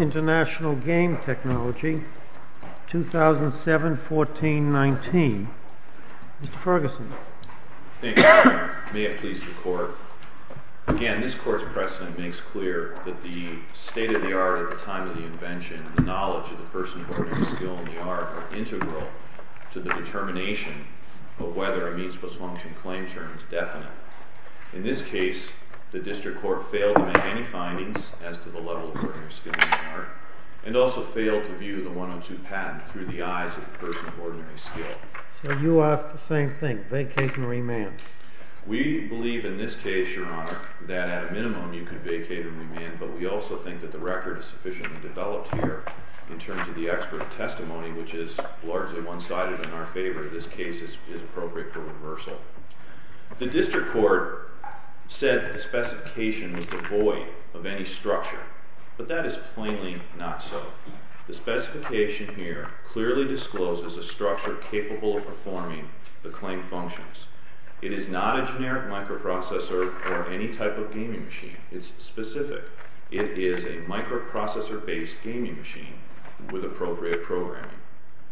International Game Technology, 2007-14-19 In this case, the district court failed to make any findings as to the level of ordinary skill required and also failed to view the 102 patent through the eyes of a person of ordinary skill. So you ask the same thing, vacate and remand. We believe in this case, your honor, that at a minimum you could vacate and remand, but we also think that the record is sufficiently developed here in terms of the expert testimony, which is largely one-sided in our favor. This case is appropriate for reversal. The district court said the specification was devoid of any structure, but that is plainly not so. The specification here clearly discloses a structure capable of performing the claimed functions. It is not a generic microprocessor or any type of gaming machine. It's specific. It is a microprocessor-based gaming machine with appropriate programming.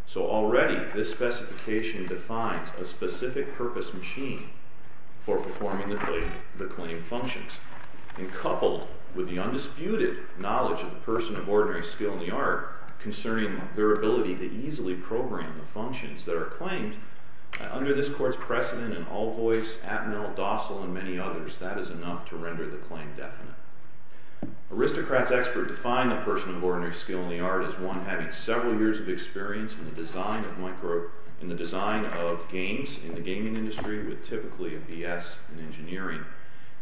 So already, this specification defines a specific purpose machine for performing the claimed functions. And coupled with the undisputed knowledge of the person of ordinary skill in the art concerning their ability to easily program the functions that are claimed, under this court's precedent in All Voice, Atmel, Dossal, and many others, that is enough to render the claim definite. Aristocrat's expert defined the person of ordinary skill in the art as one having several years of experience in the design of games in the gaming industry with typically a BS in engineering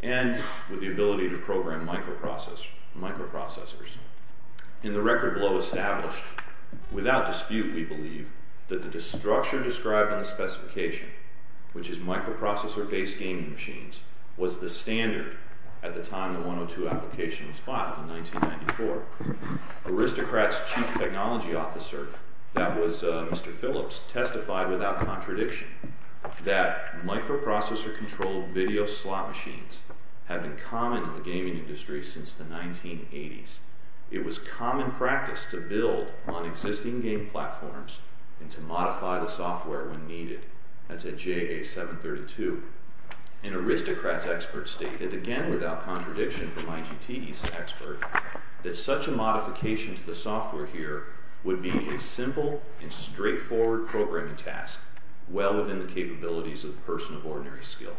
and with the ability to program microprocessors. In the record below established, without dispute, we believe that the structure described in the specification, which is microprocessor-based gaming machines, was the standard at the time the 102 application was filed in 1994. Aristocrat's chief technology officer, that was Mr. Phillips, testified without contradiction that microprocessor-controlled video slot machines have been common in the gaming industry since the 1980s. It was common practice to build on existing game platforms and to modify the software when needed. That's at JA 732. And Aristocrat's expert stated, again without contradiction from IGT's expert, that such a modification to the software here would be a simple and straightforward programming task, well within the capabilities of the person of ordinary skill.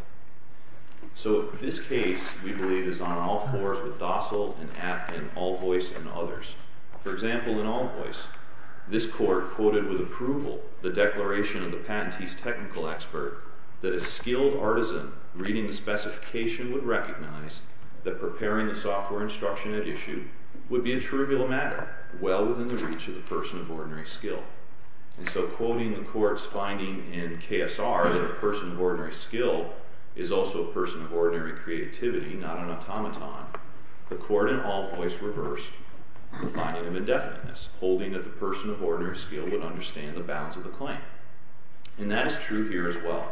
So this case, we believe, is on all fours with Dossal and Atmel and All Voice and others. For example, in All Voice, this court quoted with approval the declaration of the patentee's technical expert that a skilled artisan reading the specification would recognize that preparing the software instruction at issue would be a trivial matter, well within the reach of the person of ordinary skill. And so quoting the court's finding in KSR that a person of ordinary skill is also a person of ordinary creativity, not an automaton, the court in All Voice reversed the finding of indefiniteness, holding that the person of ordinary skill would understand the bounds of the claim. And that is true here as well.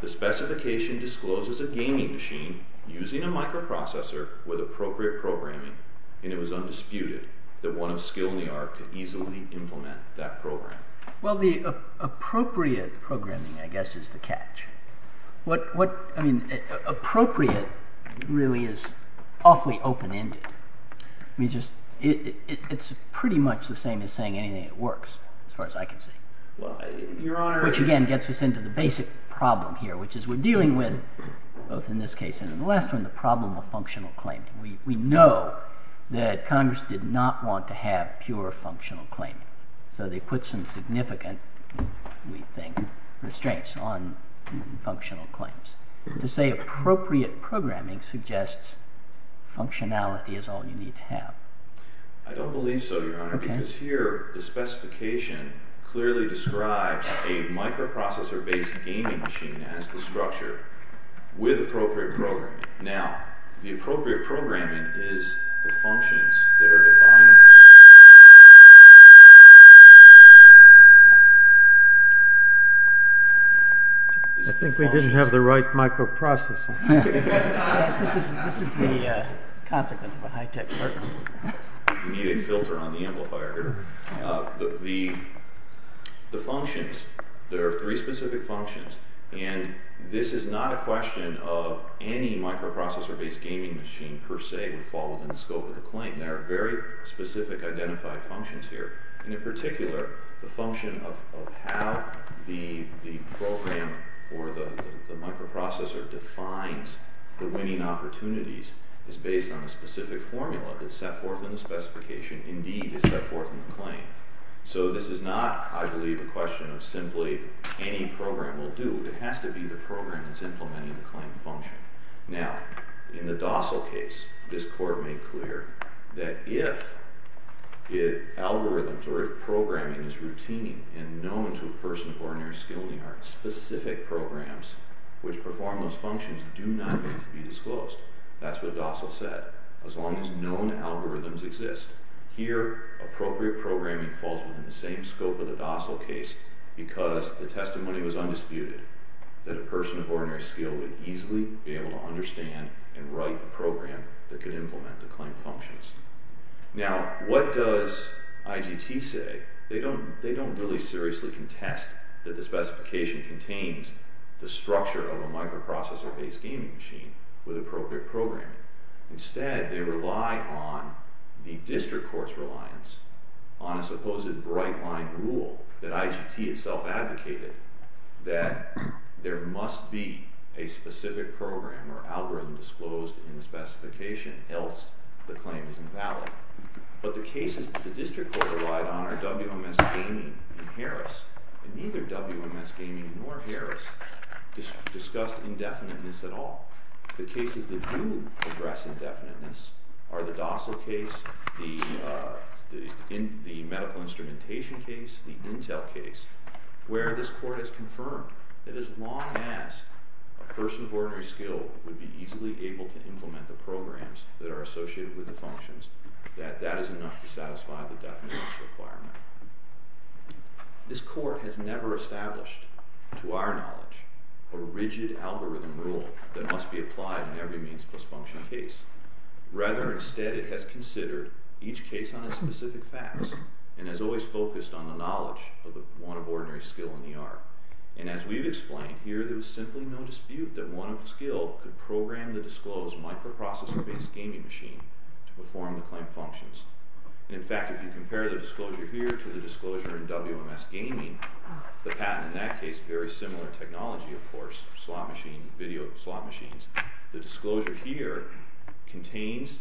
The specification discloses a gaming machine using a microprocessor with appropriate programming, and it was undisputed that one of skill and the art could easily implement that program. Well, the appropriate programming, I guess, is the catch. Appropriate really is awfully open-ended. It's pretty much the same as saying anything works, as far as I can see. Which, again, gets us into the basic problem here, which is we're dealing with, both in this case and in the last one, the problem of functional claim. We know that Congress did not want to have pure functional claim. So they put some significant, we think, restraints on functional claims. To say appropriate programming suggests functionality is all you need to have. I don't believe so, Your Honor, because here the specification clearly describes a microprocessor-based gaming machine as the structure with appropriate programming. Now, the appropriate programming is the functions that are defined. I think we didn't have the right microprocessor. This is the consequence of a high-tech court. We need a filter on the amplifier here. The functions, there are three specific functions, and this is not a question of any microprocessor-based gaming machine, per se, would fall within the scope of the claim. There are very specific identified functions here. In particular, the function of how the program or the microprocessor defines the winning opportunities is based on a specific formula that's set forth in the specification, indeed is set forth in the claim. So this is not, I believe, a question of simply any program will do. It has to be the program that's implementing the claim function. Now, in the Dossal case, this court made clear that if algorithms or if programming is routine and known to a person of ordinary skill, there are specific programs which perform those functions do not need to be disclosed. That's what Dossal said. As long as known algorithms exist, here appropriate programming falls within the same scope of the Dossal case because the testimony was undisputed that a person of ordinary skill would easily be able to understand and write a program that could implement the claim functions. Now, what does IGT say? They don't really seriously contest that the specification contains the structure of a microprocessor-based gaming machine with appropriate programming. Instead, they rely on the district court's reliance on a supposed bright-line rule that IGT itself advocated, that there must be a specific program or algorithm disclosed in the specification else the claim is invalid. But the cases that the district court relied on are WMS Gaming and Harris, and neither WMS Gaming nor Harris discussed indefiniteness at all. The cases that do address indefiniteness are the Dossal case, the medical instrumentation case, the Intel case, where this court has confirmed that as long as a person of ordinary skill would be easily able to implement the programs that are associated with the functions, that that is enough to satisfy the definiteness requirement. This court has never established, to our knowledge, a rigid algorithm rule that must be applied in every means-plus function case. Rather, instead, it has considered each case on its specific facts and has always focused on the knowledge of the one of ordinary skill in the art. And as we've explained here, there was simply no dispute that one of skill could program the disclosed microprocessor-based gaming machine to perform the claim functions. In fact, if you compare the disclosure here to the disclosure in WMS Gaming, the patent in that case, very similar technology, of course, slot machine, video slot machines, the disclosure here contains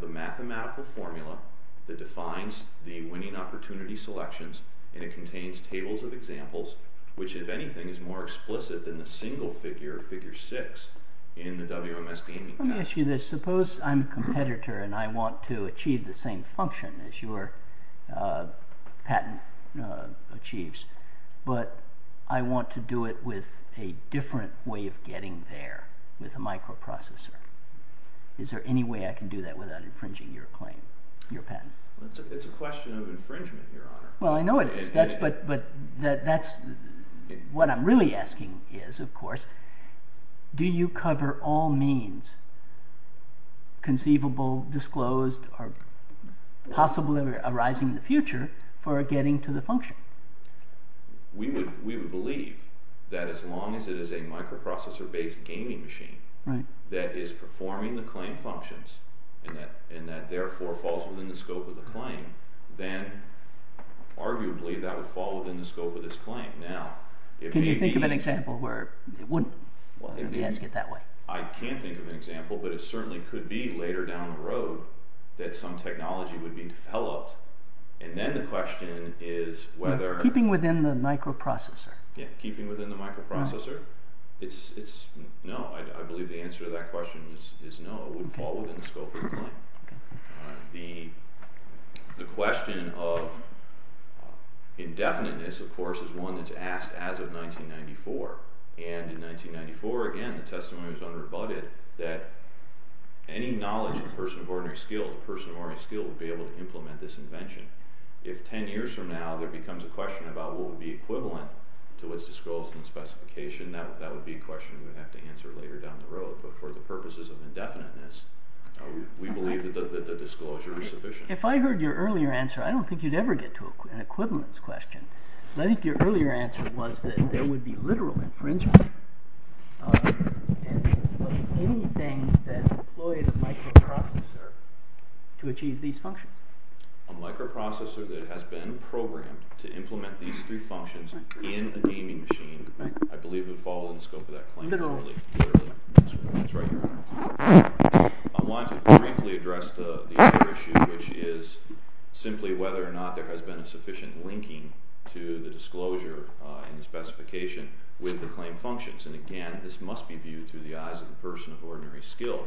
the mathematical formula that defines the winning opportunity selections, and it contains tables of examples which, if anything, is more explicit than the single figure, figure six, in the WMS Gaming patent. Let me ask you this. Suppose I'm a competitor and I want to achieve the same function as your patent achieves, but I want to do it with a different way of getting there, with a microprocessor. Is there any way I can do that without infringing your patent? It's a question of infringement, Your Honor. Well, I know it is, but what I'm really asking is, of course, do you cover all means conceivable, disclosed, or possibly arising in the future for getting to the function? We would believe that as long as it is a microprocessor-based gaming machine that is performing the claim functions, and that therefore falls within the scope of the claim, then arguably that would fall within the scope of this claim. Can you think of an example where it wouldn't? I can't think of an example, but it certainly could be later down the road that some technology would be developed, and then the question is whether… Keeping within the microprocessor. Keeping within the microprocessor? No, I believe the answer to that question is no, it would fall within the scope of the claim. The question of indefiniteness, of course, is one that's asked as of 1994, and in 1994, again, the testimony was unrebutted, that any knowledge of the person of ordinary skill, the person of ordinary skill, would be able to implement this invention. If ten years from now there becomes a question about what would be equivalent to its disclosure and specification, that would be a question we would have to answer later down the road, but for the purposes of indefiniteness, we believe that the disclosure is sufficient. If I heard your earlier answer, I don't think you'd ever get to an equivalence question. I think your earlier answer was that there would be literal infringement, and anything that employed a microprocessor to achieve these functions. A microprocessor that has been programmed to implement these three functions in a gaming machine, I believe, would fall within the scope of that claim. I wanted to briefly address the other issue, which is simply whether or not there has been a sufficient linking to the disclosure and the specification with the claim functions, and again, this must be viewed through the eyes of the person of ordinary skill,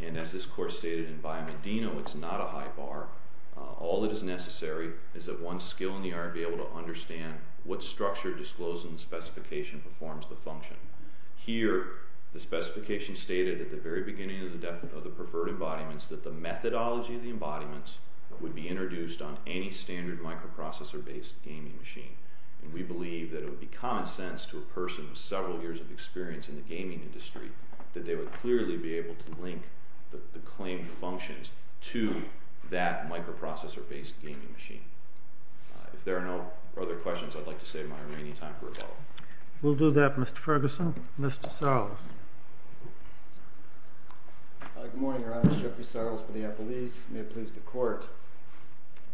and as this course stated in Biomedino, it's not a high bar. All that is necessary is that one's skill in the art be able to understand what structure, disclosure, and specification performs the function. Here, the specification stated at the very beginning of the deferred embodiments that the methodology of the embodiments would be introduced on any standard microprocessor-based gaming machine, and we believe that it would be common sense to a person with several years of experience in the gaming industry that they would clearly be able to link the claimed functions to that microprocessor-based gaming machine. If there are no other questions, I'd like to save my remaining time for a follow-up. We'll do that, Mr. Ferguson. Mr. Sarles. Good morning, Your Honor. Jeffrey Sarles for the FLEs. May it please the Court.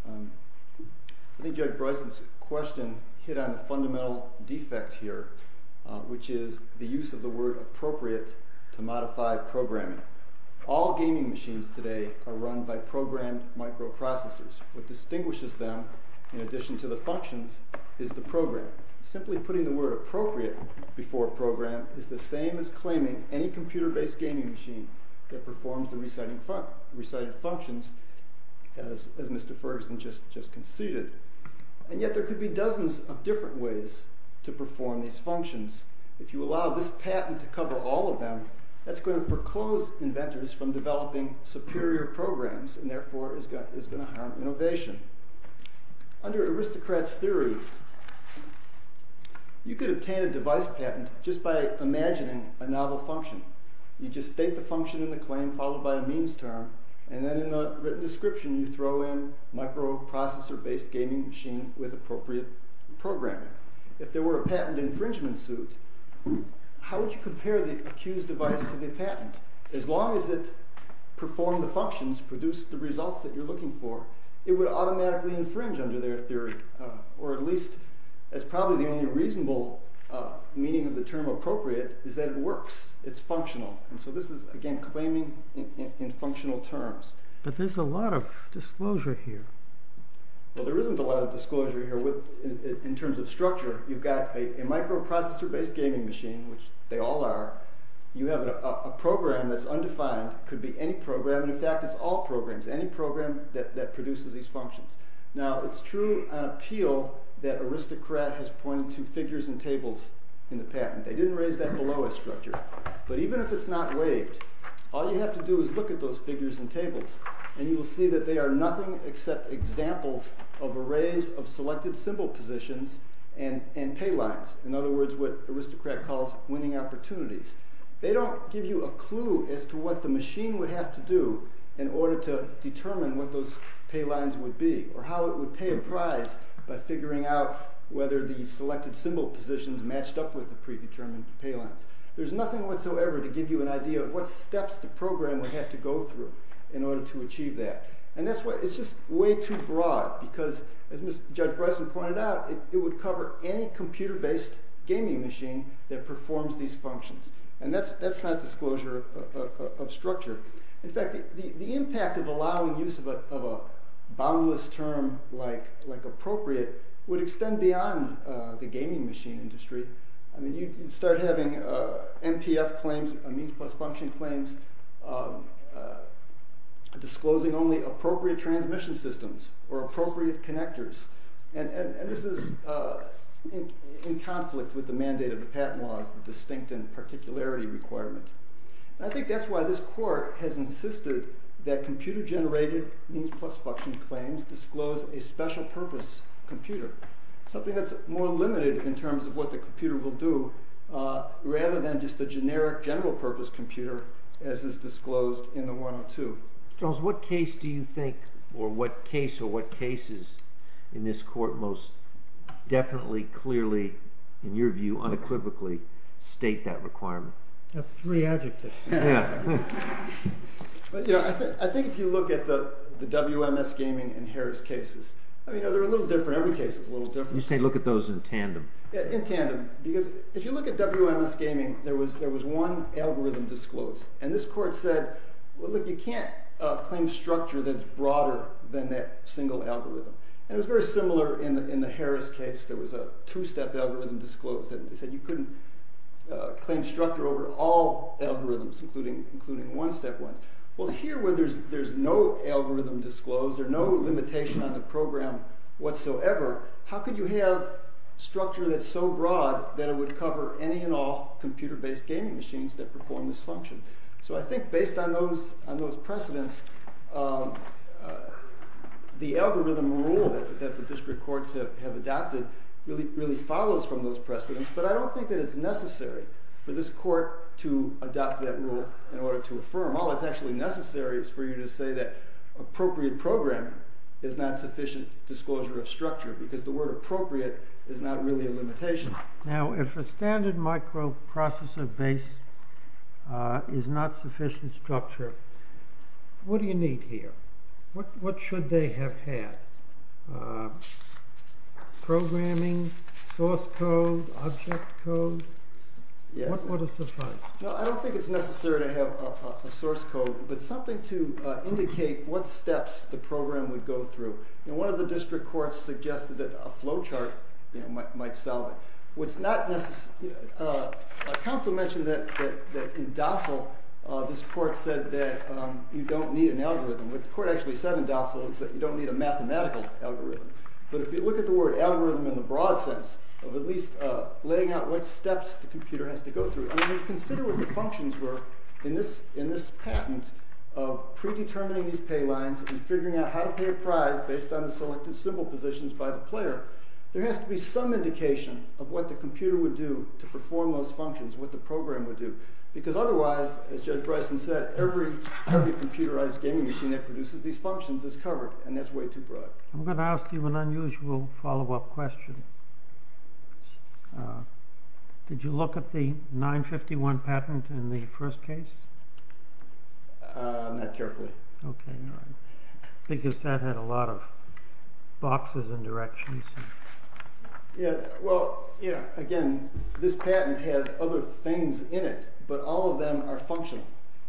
I think Judge Bryson's question hit on a fundamental defect here, which is the use of the word appropriate to modify programming. All gaming machines today are run by programmed microprocessors. What distinguishes them, in addition to the functions, is the program. Simply putting the word appropriate before program is the same as claiming any computer-based gaming machine that performs the recited functions, as Mr. Ferguson just conceded. And yet there could be dozens of different ways to perform these functions. If you allow this patent to cover all of them, that's going to proclose inventors from developing superior programs and, therefore, is going to harm innovation. Under aristocrats' theory, you could obtain a device patent just by imagining a novel function. You just state the function in the claim, followed by a means term, and then in the written description you throw in microprocessor-based gaming machine with appropriate programming. If there were a patent infringement suit, how would you compare the accused device to the patent? As long as it performed the functions, produced the results that you're looking for, it would automatically infringe under their theory. Or at least, as probably the only reasonable meaning of the term appropriate, is that it works, it's functional. And so this is, again, claiming in functional terms. But there's a lot of disclosure here. Well, there isn't a lot of disclosure here in terms of structure. You've got a microprocessor-based gaming machine, which they all are. You have a program that's undefined. It could be any program. In fact, it's all programs, any program that produces these functions. Now, it's true on appeal that aristocrat has pointed to figures and tables in the patent. They didn't raise that below a structure. But even if it's not waived, all you have to do is look at those figures and tables, and you will see that they are nothing except examples of arrays of selected symbol positions and pay lines. In other words, what aristocrat calls winning opportunities. They don't give you a clue as to what the machine would have to do in order to determine what those pay lines would be. Or how it would pay a prize by figuring out whether the selected symbol positions matched up with the predetermined pay lines. There's nothing whatsoever to give you an idea of what steps the program would have to go through in order to achieve that. And it's just way too broad. Because, as Judge Bryson pointed out, it would cover any computer-based gaming machine that performs these functions. And that's not disclosure of structure. In fact, the impact of allowing use of a boundless term like appropriate would extend beyond the gaming machine industry. I mean, you start having MPF claims, means plus function claims, disclosing only appropriate transmission systems or appropriate connectors. And this is in conflict with the mandate of the patent laws, the distinct and particularity requirement. And I think that's why this court has insisted that computer-generated means plus function claims disclose a special purpose computer. Something that's more limited in terms of what the computer will do, rather than just a generic general purpose computer as is disclosed in the 102. Charles, what case do you think, or what case or what cases in this court most definitely, clearly, in your view, unequivocally state that requirement? That's three adjectives. I think if you look at the WMS gaming and Harris cases, they're a little different. Every case is a little different. You say look at those in tandem. In tandem. Because if you look at WMS gaming, there was one algorithm disclosed. And this court said, well, look, you can't claim structure that's broader than that single algorithm. And it was very similar in the Harris case. There was a two-step algorithm disclosed. They said you couldn't claim structure over all algorithms, including one-step ones. Well, here where there's no algorithm disclosed, there's no limitation on the program whatsoever, how could you have structure that's so broad that it would cover any and all computer-based gaming machines that perform this function? So I think based on those precedents, the algorithm rule that the district courts have adopted really follows from those precedents. But I don't think that it's necessary for this court to adopt that rule in order to affirm. All that's actually necessary is for you to say that appropriate program is not sufficient disclosure of structure, because the word appropriate is not really a limitation. Now, if a standard microprocessor base is not sufficient structure, what do you need here? What should they have had? Programming, source code, object code? What would have sufficed? I don't think it's necessary to have a source code, but something to indicate what steps the program would go through. One of the district courts suggested that a flow chart might solve it. Council mentioned that in DOSL this court said that you don't need an algorithm. What the court actually said in DOSL is that you don't need a mathematical algorithm. But if you look at the word algorithm in the broad sense of at least laying out what steps the computer has to go through, and if you consider what the functions were in this patent of predetermining these pay lines and figuring out how to pay a prize based on the selected symbol positions by the player, there has to be some indication of what the computer would do to perform those functions, what the program would do. Because otherwise, as Judge Bryson said, every computerized gaming machine that produces these functions is covered, and that's way too broad. I'm going to ask you an unusual follow-up question. Did you look at the 951 patent in the first case? Not carefully. Because that had a lot of boxes and directions. Again, this patent has other things in it, but all of them are functional.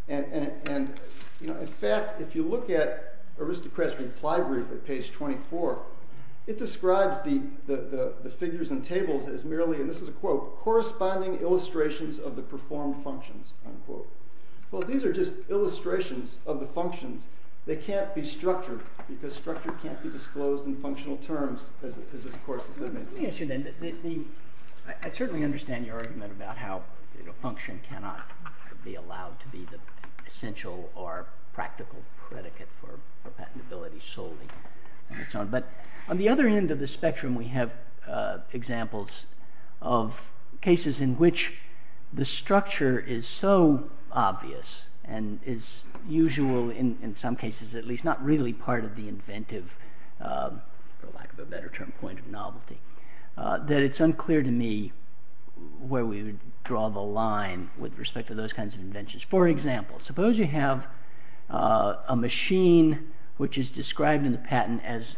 In fact, if you look at Aristocrat's reply brief at page 24, it describes the figures and tables as merely, and this is a quote, corresponding illustrations of the performed functions, unquote. Well, these are just illustrations of the functions. They can't be structured, because structure can't be disclosed in functional terms, as this court has admitted. I certainly understand your argument about how function cannot be allowed to be the essential or practical predicate for patentability solely. But on the other end of the spectrum, we have examples of cases in which the structure is so obvious, and is usual in some cases, at least not really part of the inventive, for lack of a better term, point of novelty, that it's unclear to me where we would draw the line with respect to those kinds of inventions. For example, suppose you have a machine which is described in the patent as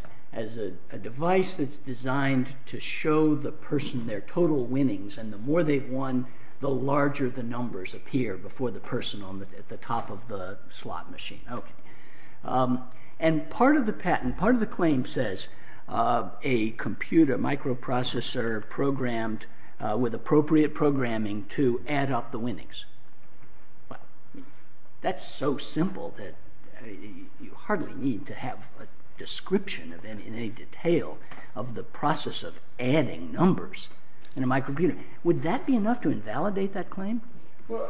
a device that's designed to show the person their total winnings, and the more they've won, the larger the numbers appear before the person at the top of the slot machine. And part of the patent, part of the claim says, a computer microprocessor programmed with appropriate programming to add up the winnings. That's so simple that you hardly need to have a description in any detail of the process of adding numbers in a microprocessor. Would that be enough to invalidate that claim? Well,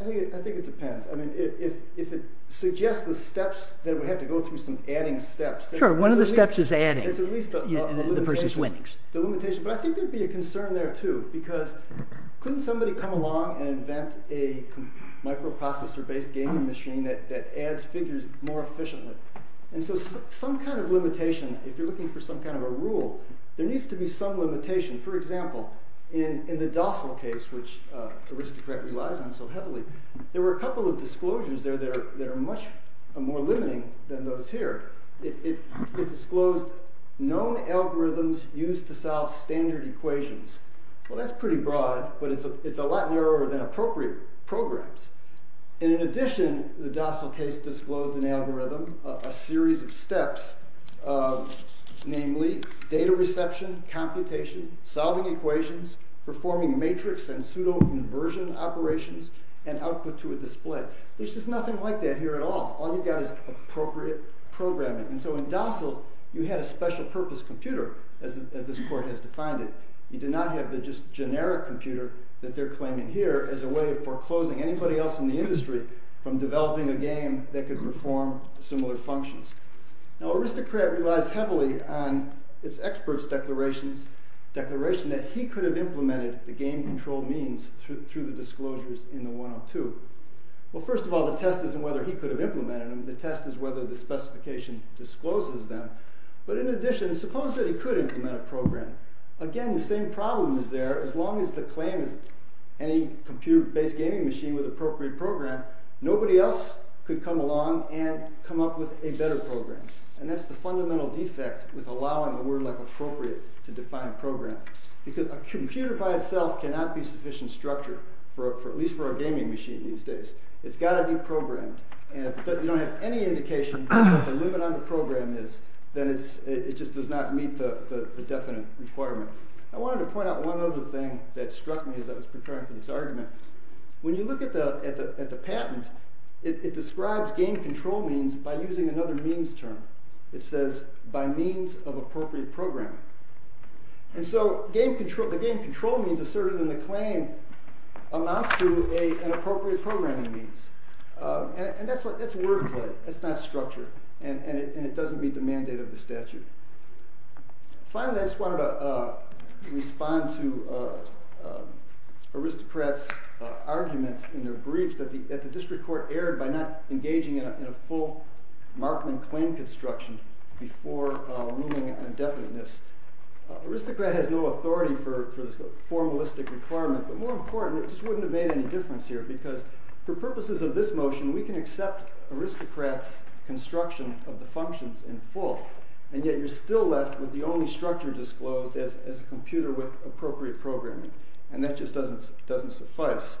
I think it depends. I mean, if it suggests the steps, then we have to go through some adding steps. Sure, one of the steps is adding the person's winnings. But I think there would be a concern there, too, because couldn't somebody come along and invent a microprocessor-based gaming machine that adds figures more efficiently? And so some kind of limitation, if you're looking for some kind of a rule, there needs to be some limitation. For example, in the DOSL case, which Aristocrat relies on so heavily, there were a couple of disclosures there that are much more limiting than those here. It disclosed known algorithms used to solve standard equations. Well, that's pretty broad, but it's a lot narrower than appropriate programs. And in addition, the DOSL case disclosed an algorithm, a series of steps, namely data reception, computation, solving equations, performing matrix and pseudo-conversion operations, and output to a display. There's just nothing like that here at all. All you've got is appropriate programming. And so in DOSL, you had a special-purpose computer, as this court has defined it. You did not have the just generic computer that they're claiming here as a way of foreclosing anybody else in the industry from developing a game that could perform similar functions. Now, Aristocrat relies heavily on its experts' declaration that he could have implemented the game-controlled means through the disclosures in the 102. Well, first of all, the test isn't whether he could have implemented them. The test is whether the specification discloses them. But in addition, suppose that he could implement a program. Again, the same problem is there. As long as the claim is any computer-based gaming machine with appropriate program, nobody else could come along and come up with a better program. And that's the fundamental defect with allowing a word like appropriate to define program. Because a computer by itself cannot be sufficient structure, at least for a gaming machine these days. It's got to be programmed. And if you don't have any indication of what the limit on the program is, then it just does not meet the definite requirement. I wanted to point out one other thing that struck me as I was preparing for this argument. When you look at the patent, it describes game-control means by using another means term. It says, by means of appropriate program. And so the game-control means asserted in the claim amounts to an appropriate programming means. And that's wordplay. That's not structure. And it doesn't meet the mandate of the statute. Finally, I just wanted to respond to Aristocrat's argument in their briefs that the district court erred by not engaging in a full Markman claim construction before moving an indefinite miss. Aristocrat has no authority for the formalistic requirement. But more important, it just wouldn't have made any difference here. Because for purposes of this motion, we can accept Aristocrat's construction of the functions in full. And yet you're still left with the only structure disclosed as a computer with appropriate programming. And that just doesn't suffice.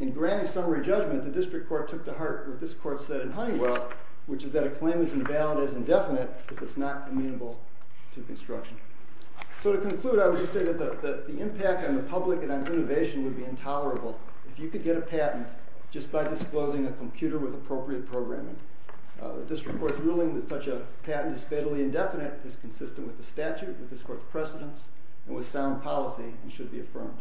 In granting summary judgment, the district court took to heart what this court said in Honeywell, which is that a claim is invalid as indefinite if it's not amenable to construction. So to conclude, I would just say that the impact on the public and on innovation would be intolerable if you could get a patent just by disclosing a computer with appropriate programming. The district court's ruling that such a patent is fatally indefinite is consistent with the statute, with this court's precedence, and with sound policy and should be affirmed.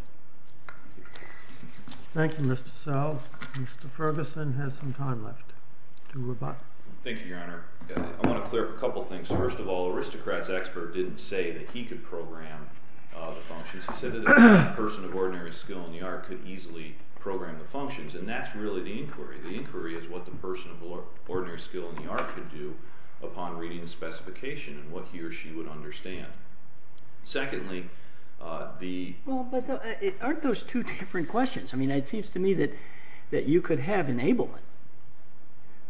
Thank you, Mr. Sells. Mr. Ferguson has some time left to rebut. Thank you, Your Honor. I want to clear up a couple things. First of all, Aristocrat's expert didn't say that he could program the functions. He said that a person of ordinary skill in the art could easily program the functions. And that's really the inquiry. The inquiry is what the person of ordinary skill in the art could do upon reading the specification and what he or she would understand. Secondly, the— Well, but aren't those two different questions? I mean, it seems to me that you could have enablement,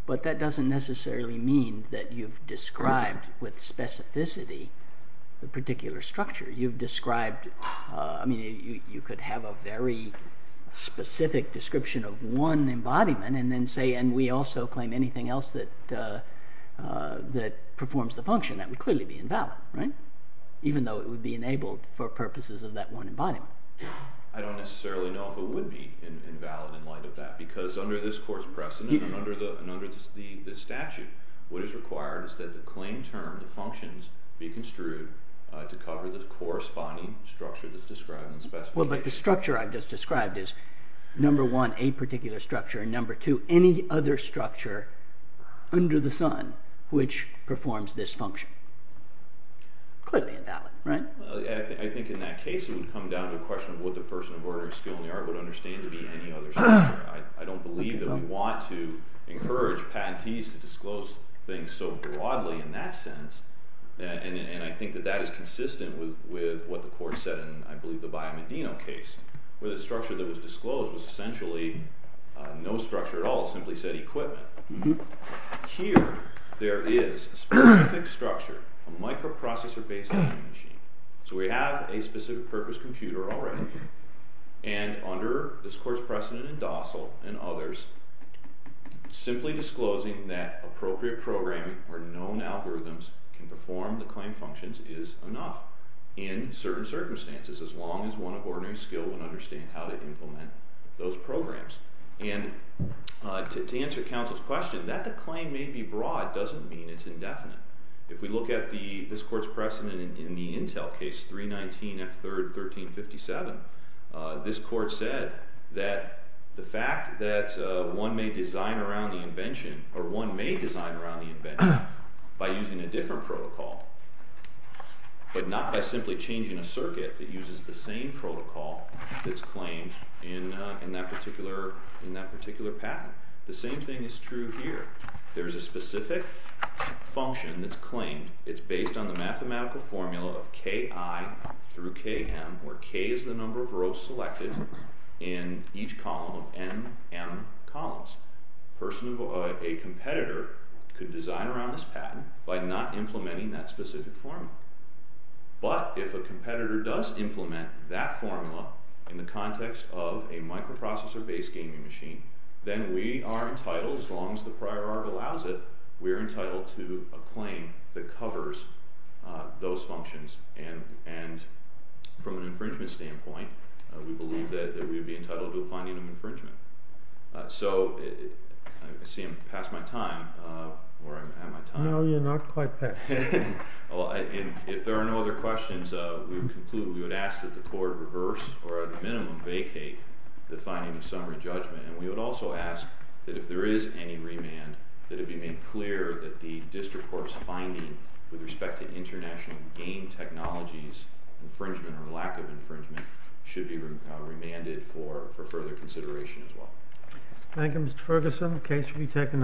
but that doesn't necessarily mean that you've described with specificity the particular structure. You've described—I mean, you could have a very specific description of one embodiment and then say, and we also claim anything else that performs the function. That would clearly be invalid, right? Even though it would be enabled for purposes of that one embodiment. I don't necessarily know if it would be invalid in light of that, because under this court's precedent and under the statute, what is required is that the claim term, the functions, be construed to cover the corresponding structure that's described in the specification. Well, but the structure I've just described is, number one, a particular structure, and number two, any other structure under the sun which performs this function. Clearly invalid, right? I think in that case it would come down to a question of what the person of ordinary skill in the art would understand to be any other structure. I don't believe that we want to encourage patentees to disclose things so broadly in that sense, and I think that that is consistent with what the court said in, I believe, the Biomedino case, where the structure that was disclosed was essentially no structure at all. It simply said equipment. Here, there is a specific structure, a microprocessor-based time machine. So we have a specific purpose computer already, and under this court's precedent in Dossal and others, simply disclosing that appropriate programming or known algorithms can perform the claim functions is enough in certain circumstances, as long as one of ordinary skill would understand how to implement those programs. And to answer counsel's question, that the claim may be broad doesn't mean it's indefinite. If we look at this court's precedent in the Intel case, 319 F3rd 1357, this court said that the fact that one may design around the invention, or one may design around the invention, by using a different protocol, but not by simply changing a circuit that uses the same protocol that's claimed in that particular patent. The same thing is true here. There is a specific function that's claimed. It's based on the mathematical formula of Ki through Km, where K is the number of rows selected in each column of Nm columns. A competitor could design around this patent by not implementing that specific formula. But if a competitor does implement that formula in the context of a microprocessor-based gaming machine, then we are entitled, as long as the prior art allows it, we are entitled to a claim that covers those functions. And from an infringement standpoint, we believe that we would be entitled to a finding of infringement. So, I see I'm past my time, or am I at my time? No, you're not quite past. If there are no other questions, we would conclude, we would ask that the court reverse, or at the minimum vacate, the finding of summary judgment. And we would also ask that if there is any remand, that it be made clear that the district court's finding with respect to international game technologies infringement, or lack of infringement, should be remanded for further consideration as well. Thank you, Mr. Ferguson. The case should be taken under review.